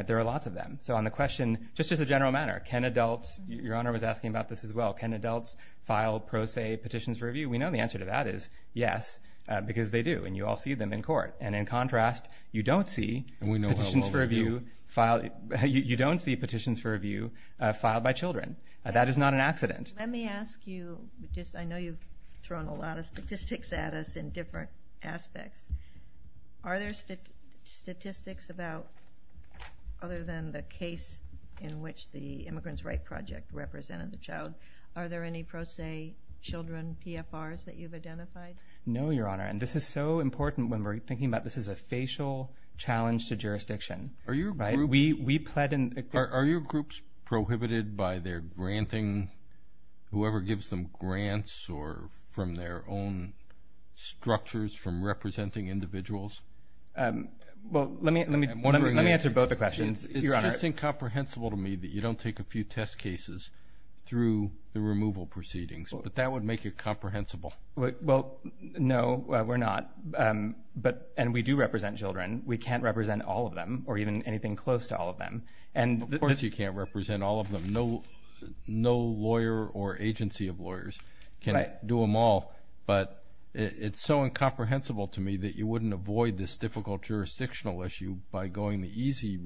There are lots of them. So on the question, just as a general matter, can adults, Your Honor was asking about this as well, can adults file pro se petitions for review? We know the answer to that is yes, because they do, and you all see them in court. And in contrast, you don't see petitions for review filed by children. That is not an accident. Let me ask you, just I know you've thrown a lot of statistics at us in different aspects. Are there statistics about, other than the case in which the Immigrants' Right Project represented the child, are there any pro se children PFRs that you've identified? No, Your Honor, and this is so important when we're thinking about this is a facial challenge to jurisdiction. Are your groups prohibited by their granting? Whoever gives them grants or from their own structures from representing individuals? Well, let me answer both the questions, Your Honor. It's just incomprehensible to me that you don't take a few test cases through the removal proceedings, but that would make it comprehensible. Well, no, we're not, and we do represent children. We can't represent all of them or even anything close to all of them. Of course you can't represent all of them. No lawyer or agency of lawyers can do them all, but it's so incomprehensible to me that you wouldn't avoid this difficult jurisdictional issue by going the easy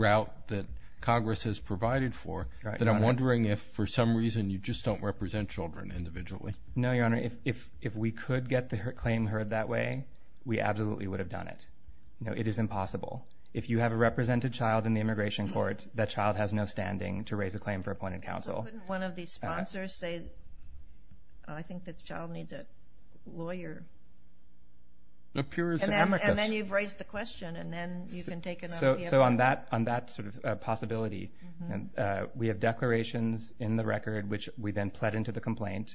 route that Congress has provided for. But I'm wondering if for some reason you just don't represent children individually. No, Your Honor, if we could get the claim heard that way, we absolutely would have done it. It is impossible. If you have a represented child in the immigration court, that child has no standing to raise a claim for appointed counsel. Couldn't one of these sponsors say, I think this child needs a lawyer? And then you've raised the question, and then you can take it up. So on that sort of possibility, we have declarations in the record, which we then pled into the complaint.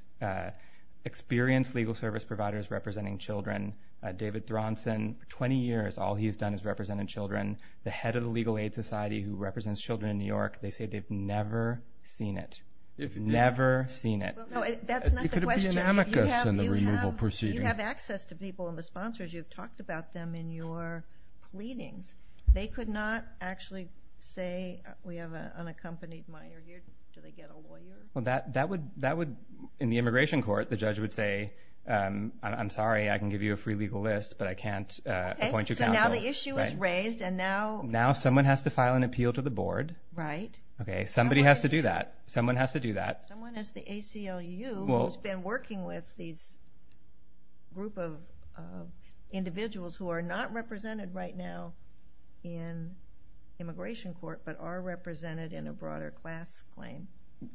Experienced legal service providers representing children. David Thronson, for 20 years all he's done is represented children. The head of the Legal Aid Society who represents children in New York, they say they've never seen it. Never seen it. That's not the question. Could it be an amicus in the removal proceeding? You have access to people and the sponsors. You've talked about them in your pleadings. They could not actually say, we have an unaccompanied minor here. Do they get a lawyer? In the immigration court, the judge would say, I'm sorry, I can give you a free legal list, but I can't appoint you counsel. So now the issue is raised. Now someone has to file an appeal to the board. Right. Somebody has to do that. Someone has to do that. Someone has the ACLU who's been working with these group of individuals who are not represented right now in immigration court, but are represented in a broader class claim.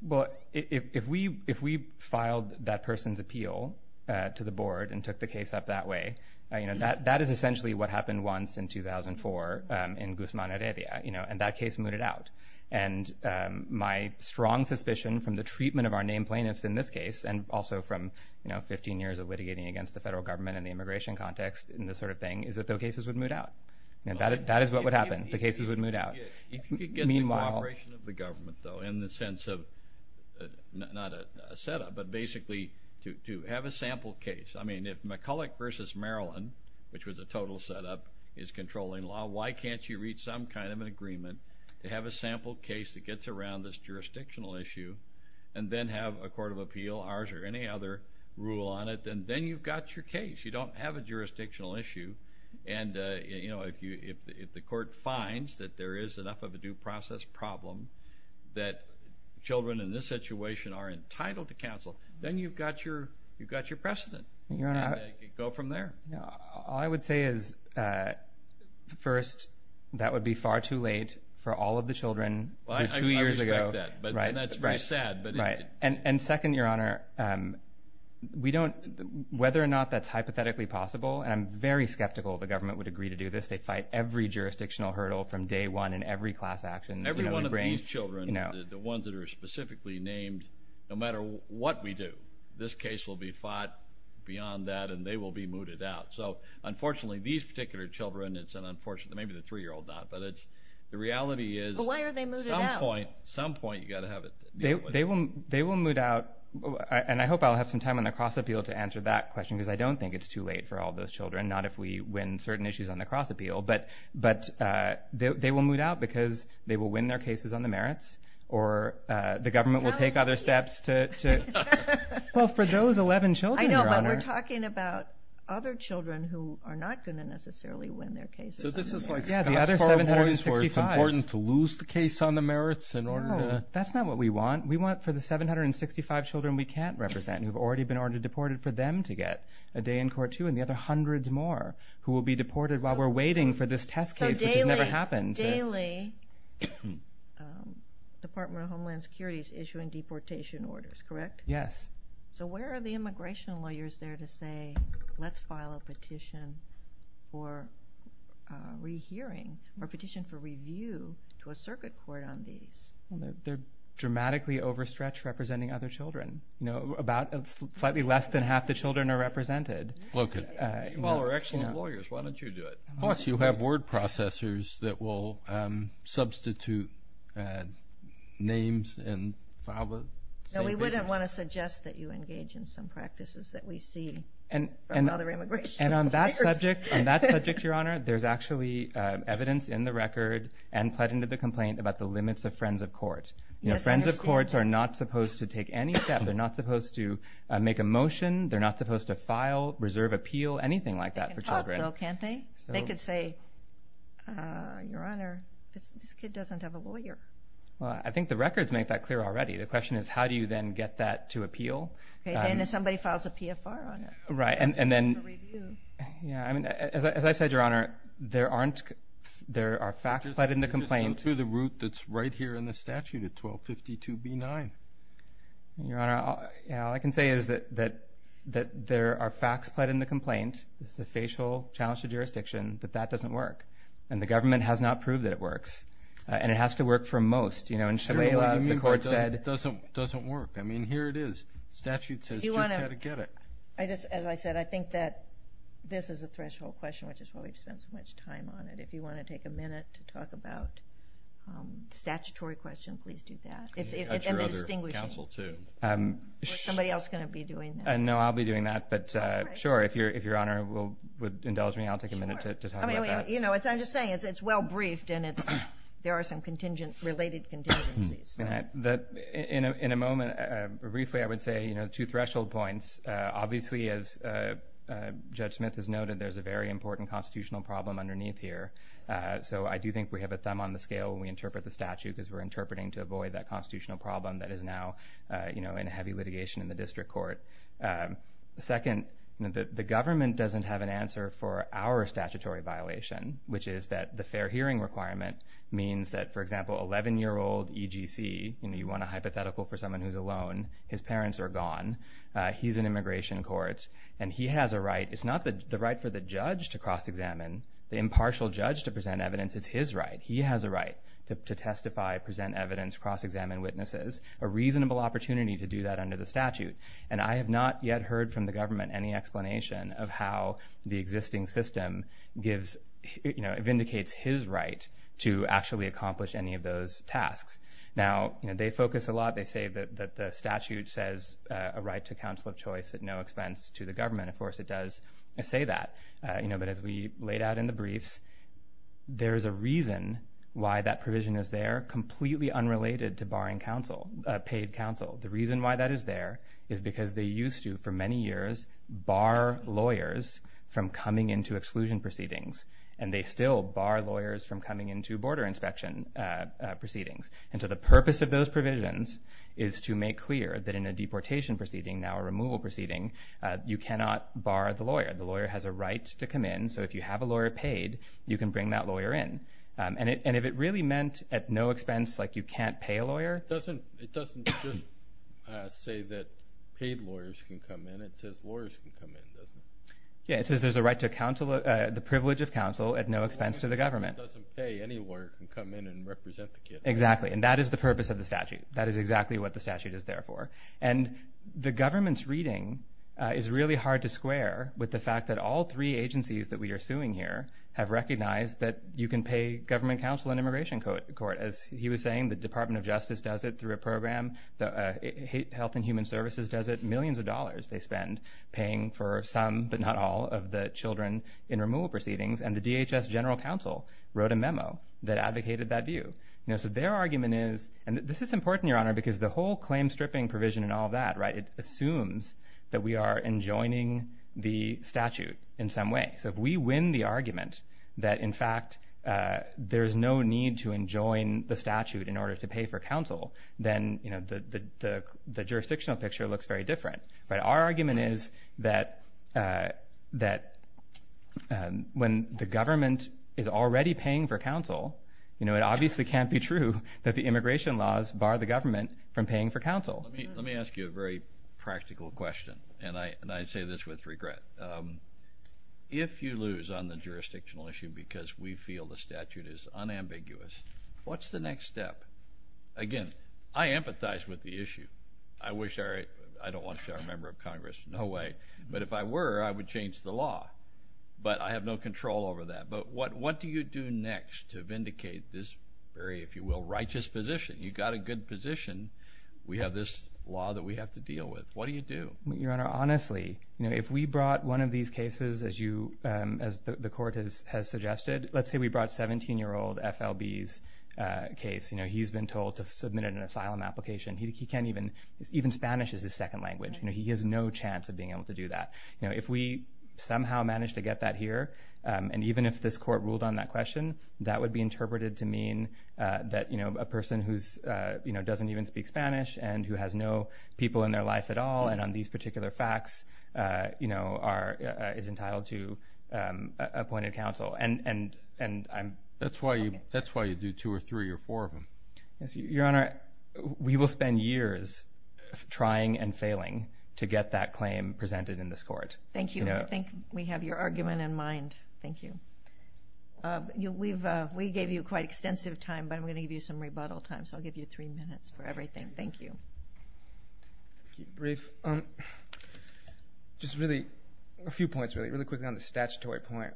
Well, if we filed that person's appeal to the board and took the case up that way, that is essentially what happened once in 2004 in Guzman, Arabia, and that case mooted out. And my strong suspicion from the treatment of our named plaintiffs in this case and also from 15 years of litigating against the federal government in the immigration context and this sort of thing is that those cases would moot out. That is what would happen. The cases would moot out. If you could get the cooperation of the government, though, in the sense of not a setup, but basically to have a sample case. I mean, if McCulloch v. Maryland, which was a total setup, is controlling law, why can't you reach some kind of an agreement to have a sample case that gets around this jurisdictional issue and then have a court of appeal, ours or any other, rule on it, and then you've got your case. You don't have a jurisdictional issue. And, you know, if the court finds that there is enough of a due process problem that children in this situation are entitled to counsel, then you've got your precedent. Go from there. All I would say is, first, that would be far too late for all of the children who two years ago. I respect that. And that's very sad. Right. And second, Your Honor, whether or not that's hypothetically possible, and I'm very skeptical the government would agree to do this, they fight every jurisdictional hurdle from day one in every class action. Every one of these children, the ones that are specifically named, no matter what we do, this case will be fought beyond that and they will be mooted out. So, unfortunately, these particular children, it's an unfortunate thing, maybe the 3-year-old not, but the reality is at some point you've got to have it. They will moot out, and I hope I'll have some time on the cross-appeal to answer that question because I don't think it's too late for all those children, not if we win certain issues on the cross-appeal, but they will moot out because they will win their cases on the merits or the government will take other steps to... Well, for those 11 children, Your Honor. I know, but we're talking about other children who are not going to necessarily win their cases on the merits. So this is like Scott's four warnings where it's important to lose the case on the merits in order to... No, that's not what we want. We want for the 765 children we can't represent who have already been ordered deported for them to get a day in court, too, and the other hundreds more who will be deported while we're waiting for this test case, which has never happened. Daily, Department of Homeland Security is issuing deportation orders, correct? Yes. So where are the immigration lawyers there to say, let's file a petition for rehearing or a petition for review to a circuit court on these? They're dramatically overstretched representing other children. Slightly less than half the children are represented. Well, we're excellent lawyers. Why don't you do it? Plus, you have word processors that will substitute names... No, we wouldn't want to suggest that you engage in some practices that we see from other immigration lawyers. And on that subject, Your Honor, there's actually evidence in the record and put into the complaint about the limits of Friends of Court. Friends of Courts are not supposed to take any step. They're not supposed to make a motion. They're not supposed to file, reserve appeal, anything like that for children. They can talk, though, can't they? They could say, Your Honor, this kid doesn't have a lawyer. Well, I think the records make that clear already. The question is, how do you then get that to appeal? And if somebody files a PFR on it. Right, and then... As I said, Your Honor, there are facts put in the complaint. Through the route that's right here in the statute at 1252b9. Your Honor, all I can say is that there are facts put in the complaint. It's a facial challenge to jurisdiction, but that doesn't work. And the government has not proved that it works. And it has to work for most. In Shalala, the court said... It doesn't work. I mean, here it is. The statute says just how to get it. As I said, I think that this is a threshold question, which is why we've spent so much time on it. If you want to take a minute to talk about the statutory question, please do that. And the distinguishing... That's your other counsel, too. Or is somebody else going to be doing that? No, I'll be doing that. But, sure, if Your Honor would indulge me, I'll take a minute to talk about that. I'm just saying it's well briefed, and there are some related contingencies. In a moment, briefly, I would say two threshold points. Obviously, as Judge Smith has noted, there's a very important constitutional problem underneath here. So I do think we have a thumb on the scale when we interpret the statute because we're interpreting to avoid that constitutional problem that is now in heavy litigation in the district court. Second, the government doesn't have an answer for our statutory violation, which is that the fair hearing requirement means that, for example, 11-year-old EGC... You want a hypothetical for someone who's alone. His parents are gone. He's in immigration court. And he has a right. It's not the right for the judge to cross-examine, the impartial judge to present evidence. It's his right. He has a right to testify, present evidence, cross-examine witnesses, a reasonable opportunity to do that under the statute. And I have not yet heard from the government any explanation of how the existing system vindicates his right to actually accomplish any of those tasks. Now, they focus a lot. They say that the statute says a right to counsel of choice at no expense to the government. Of course, it does say that. But as we laid out in the briefs, there is a reason why that provision is there, completely unrelated to barring counsel, paid counsel. The reason why that is there is because they used to, for many years, bar lawyers from coming into exclusion proceedings, and they still bar lawyers from coming into border inspection proceedings. And so the purpose of those provisions is to make clear that in a deportation proceeding, now a removal proceeding, you cannot bar the lawyer. The lawyer has a right to come in. So if you have a lawyer paid, you can bring that lawyer in. And if it really meant at no expense, like you can't pay a lawyer. It doesn't just say that paid lawyers can come in. It says lawyers can come in, doesn't it? Yeah, it says there's a right to counsel, the privilege of counsel at no expense to the government. It doesn't say any lawyer can come in and represent the kid. Exactly. And that is the purpose of the statute. That is exactly what the statute is there for. And the government's reading is really hard to square with the fact that all three agencies that we are suing here have recognized that you can pay government counsel in immigration court. As he was saying, the Department of Justice does it through a program. Health and Human Services does it. Millions of dollars they spend paying for some, but not all, of the children in removal proceedings. And the DHS General Counsel wrote a memo that advocated that view. So their argument is, and this is important, Your Honor, because the whole claim stripping provision and all that assumes that we are enjoining the statute in some way. So if we win the argument that, in fact, there's no need to enjoin the statute in order to pay for counsel, then the jurisdictional picture looks very different. But our argument is that when the government is already paying for counsel, it obviously can't be true that the immigration laws bar the government from paying for counsel. Let me ask you a very practical question, and I say this with regret. If you lose on the jurisdictional issue because we feel the statute is unambiguous, what's the next step? Again, I empathize with the issue. I wish I were a member of Congress. No way. But if I were, I would change the law. But I have no control over that. But what do you do next to vindicate this very, if you will, righteous position? You've got a good position. We have this law that we have to deal with. What do you do? Your Honor, honestly, if we brought one of these cases, as the court has suggested, let's say we brought 17-year-old FLB's case. He's been told to submit it in a file and application. Even Spanish is his second language. He has no chance of being able to do that. If we somehow manage to get that here, and even if this court ruled on that question, that would be interpreted to mean that a person who doesn't even speak Spanish and who has no people in their life at all and on these particular facts is entitled to appointed counsel. That's why you do two or three or four of them. Your Honor, we will spend years trying and failing to get that claim presented in this court. Thank you. I think we have your argument in mind. Thank you. We gave you quite extensive time, but I'm going to give you some rebuttal time. So I'll give you three minutes for everything. Thank you. Brief. Just really a few points, really, really quickly on the statutory point.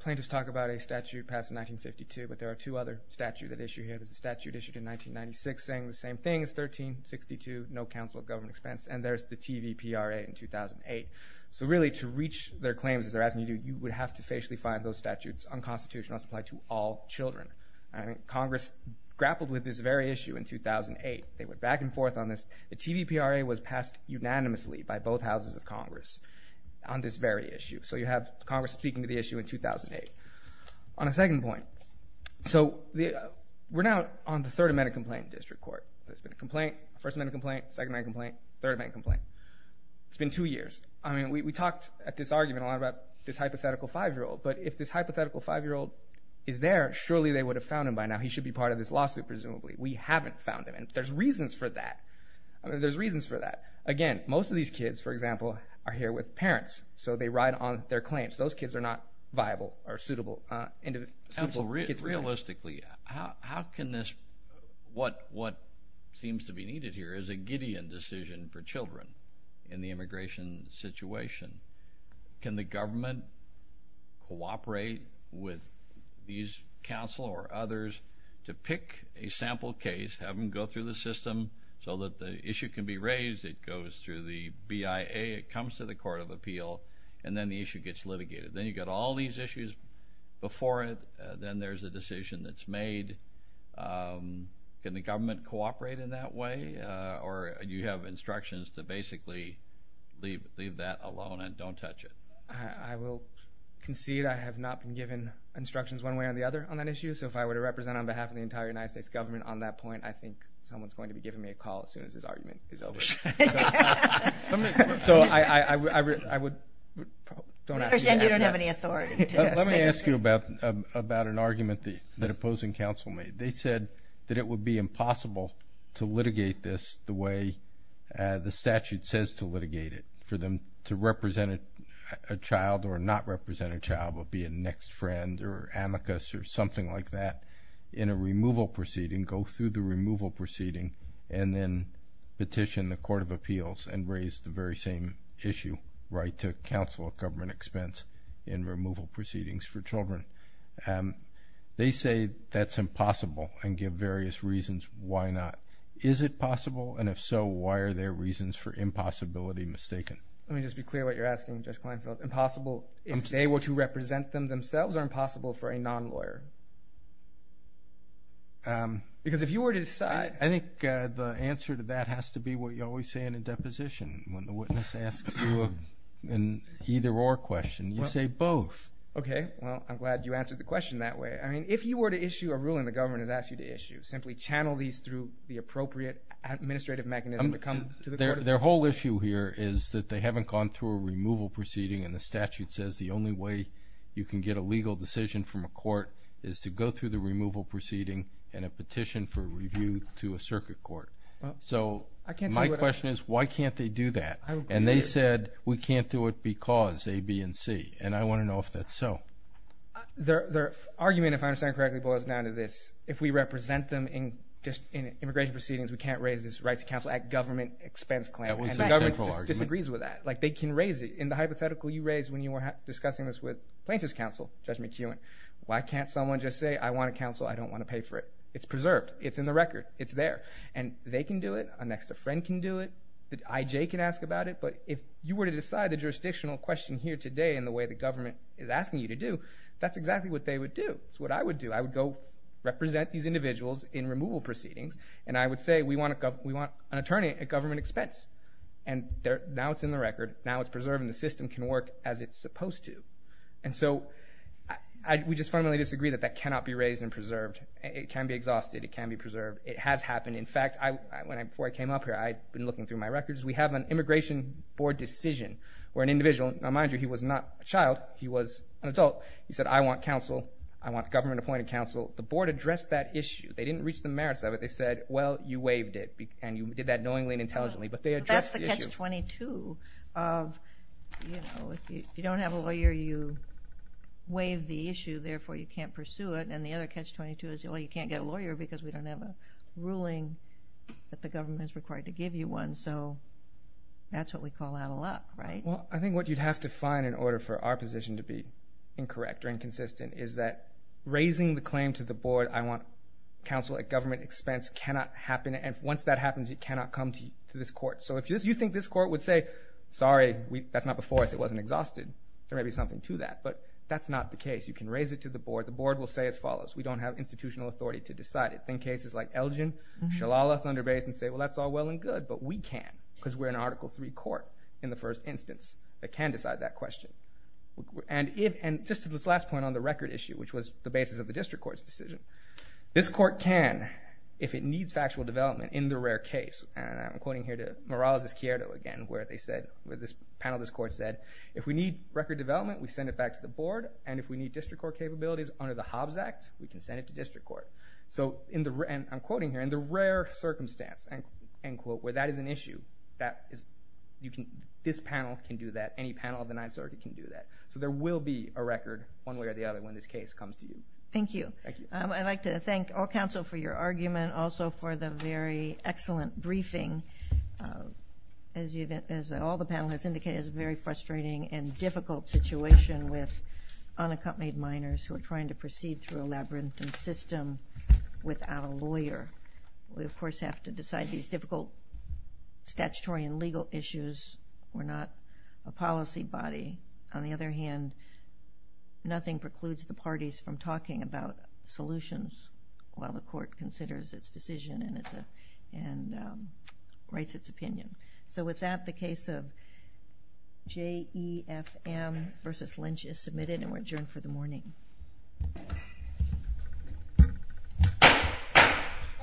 Plaintiffs talk about a statute passed in 1952, but there are two other statutes at issue here. There's a statute issued in 1996 saying the same thing. It's 1362, no counsel of government expense, and there's the TVPRA in 2008. So really to reach their claims, as they're asking you to do, you would have to facially find those statutes on constitutional supply to all children. Congress grappled with this very issue in 2008. They went back and forth on this. The TVPRA was passed unanimously by both houses of Congress on this very issue. So you have Congress speaking to the issue in 2008. On a second point, so we're now on the Third Amendment complaint in district court. There's been a complaint, First Amendment complaint, Second Amendment complaint, Third Amendment complaint. It's been two years. I mean, we talked at this argument a lot about this hypothetical 5-year-old, but if this hypothetical 5-year-old is there, surely they would have found him by now. He should be part of this lawsuit presumably. We haven't found him, and there's reasons for that. There's reasons for that. Again, most of these kids, for example, are here with parents, so they ride on their claims. Those kids are not viable or suitable. Realistically, how can this, what seems to be needed here is a Gideon decision for children in the immigration situation. Can the government cooperate with these counsel or others to pick a sample case, have them go through the system so that the issue can be raised? It goes through the BIA. It comes to the Court of Appeal, and then the issue gets litigated. Then you get all these issues before it. Then there's a decision that's made. Can the government cooperate in that way, or do you have instructions to basically leave that alone and don't touch it? I will concede I have not been given instructions one way or the other on that issue, so if I were to represent on behalf of the entire United States government on that point, I think someone's going to be giving me a call as soon as this argument is over. So I would probably don't ask you that. I understand you don't have any authority. Let me ask you about an argument that opposing counsel made. They said that it would be impossible to litigate this the way the statute says to litigate it. For them to represent a child or not represent a child, but be a next friend or amicus or something like that, in a removal proceeding, go through the removal proceeding, and then petition the Court of Appeals and raise the very same issue, right to counsel at government expense in removal proceedings for children. They say that's impossible and give various reasons why not. Is it possible, and if so, why are their reasons for impossibility mistaken? Let me just be clear what you're asking, Judge Kleinfeld. If they were to represent them themselves, are impossible for a non-lawyer? Because if you were to decide— I think the answer to that has to be what you always say in a deposition. When the witness asks you an either-or question, you say both. Okay. Well, I'm glad you answered the question that way. I mean, if you were to issue a ruling the government has asked you to issue, simply channel these through the appropriate administrative mechanism to come to the Court of Appeals. Their whole issue here is that they haven't gone through a removal proceeding, and the statute says the only way you can get a legal decision from a court is to go through the removal proceeding and a petition for review to a circuit court. So my question is, why can't they do that? And they said, we can't do it because A, B, and C, and I want to know if that's so. Their argument, if I understand correctly, boils down to this. If we represent them in immigration proceedings, we can't raise this Rights to Counsel Act government expense claim. And the government disagrees with that. Like, they can raise it. In the hypothetical you raised when you were discussing this with plaintiff's counsel, Judge McEwen, why can't someone just say, I want a counsel, I don't want to pay for it? It's preserved. It's in the record. It's there. And they can do it. An extra friend can do it. The IJ can ask about it. But if you were to decide the jurisdictional question here today in the way the government is asking you to do, that's exactly what they would do. That's what I would do. I would go represent these individuals in removal proceedings, and I would say we want an attorney at government expense. And now it's in the record. Now it's preserved, and the system can work as it's supposed to. And so we just fundamentally disagree that that cannot be raised and preserved. It can be exhausted. It can be preserved. It has happened. In fact, before I came up here, I'd been looking through my records. We have an immigration board decision where an individual, now mind you, he was not a child. He was an adult. He said, I want counsel. I want government-appointed counsel. The board addressed that issue. They didn't reach the merits of it. They said, well, you waived it, and you did that knowingly and intelligently. But they addressed the issue. That's the catch-22 of, you know, if you don't have a lawyer, you waive the issue, therefore you can't pursue it. And the other catch-22 is, well, you can't get a lawyer because we don't have a ruling that the government is required to give you one. So that's what we call out of luck, right? Well, I think what you'd have to find in order for our position to be incorrect or inconsistent is that raising the claim to the board, I want counsel at government expense, cannot happen. And once that happens, it cannot come to this court. So if you think this court would say, sorry, that's not before us, it wasn't exhausted, there may be something to that. But that's not the case. You can raise it to the board. The board will say as follows. We don't have institutional authority to decide it. Then cases like Elgin, Shalala, Thunder Bay, can say, well, that's all well and good. But we can because we're an Article III court in the first instance that can decide that question. And just to this last point on the record issue, which was the basis of the district court's decision, this court can, if it needs factual development in the rare case, and I'm quoting here to Morales' Cierto again, where this panel of this court said, if we need record development, we send it back to the board. And if we need district court capabilities under the Hobbs Act, we can send it to district court. So I'm quoting here, in the rare circumstance, end quote, where that is an issue, this panel can do that. Any panel of the Ninth Circuit can do that. So there will be a record one way or the other when this case comes to you. Thank you. Thank you. I'd like to thank all counsel for your argument, also for the very excellent briefing. As all the panel has indicated, it's a very frustrating and difficult situation with unaccompanied minors who are trying to proceed through a labyrinthine system without a lawyer. We, of course, have to decide these difficult statutory and legal issues. We're not a policy body. On the other hand, nothing precludes the parties from talking about solutions while the court considers its decision and writes its opinion. So with that, the case of J.E.F.M. v. Lynch is submitted, and we're adjourned for the morning. All rise.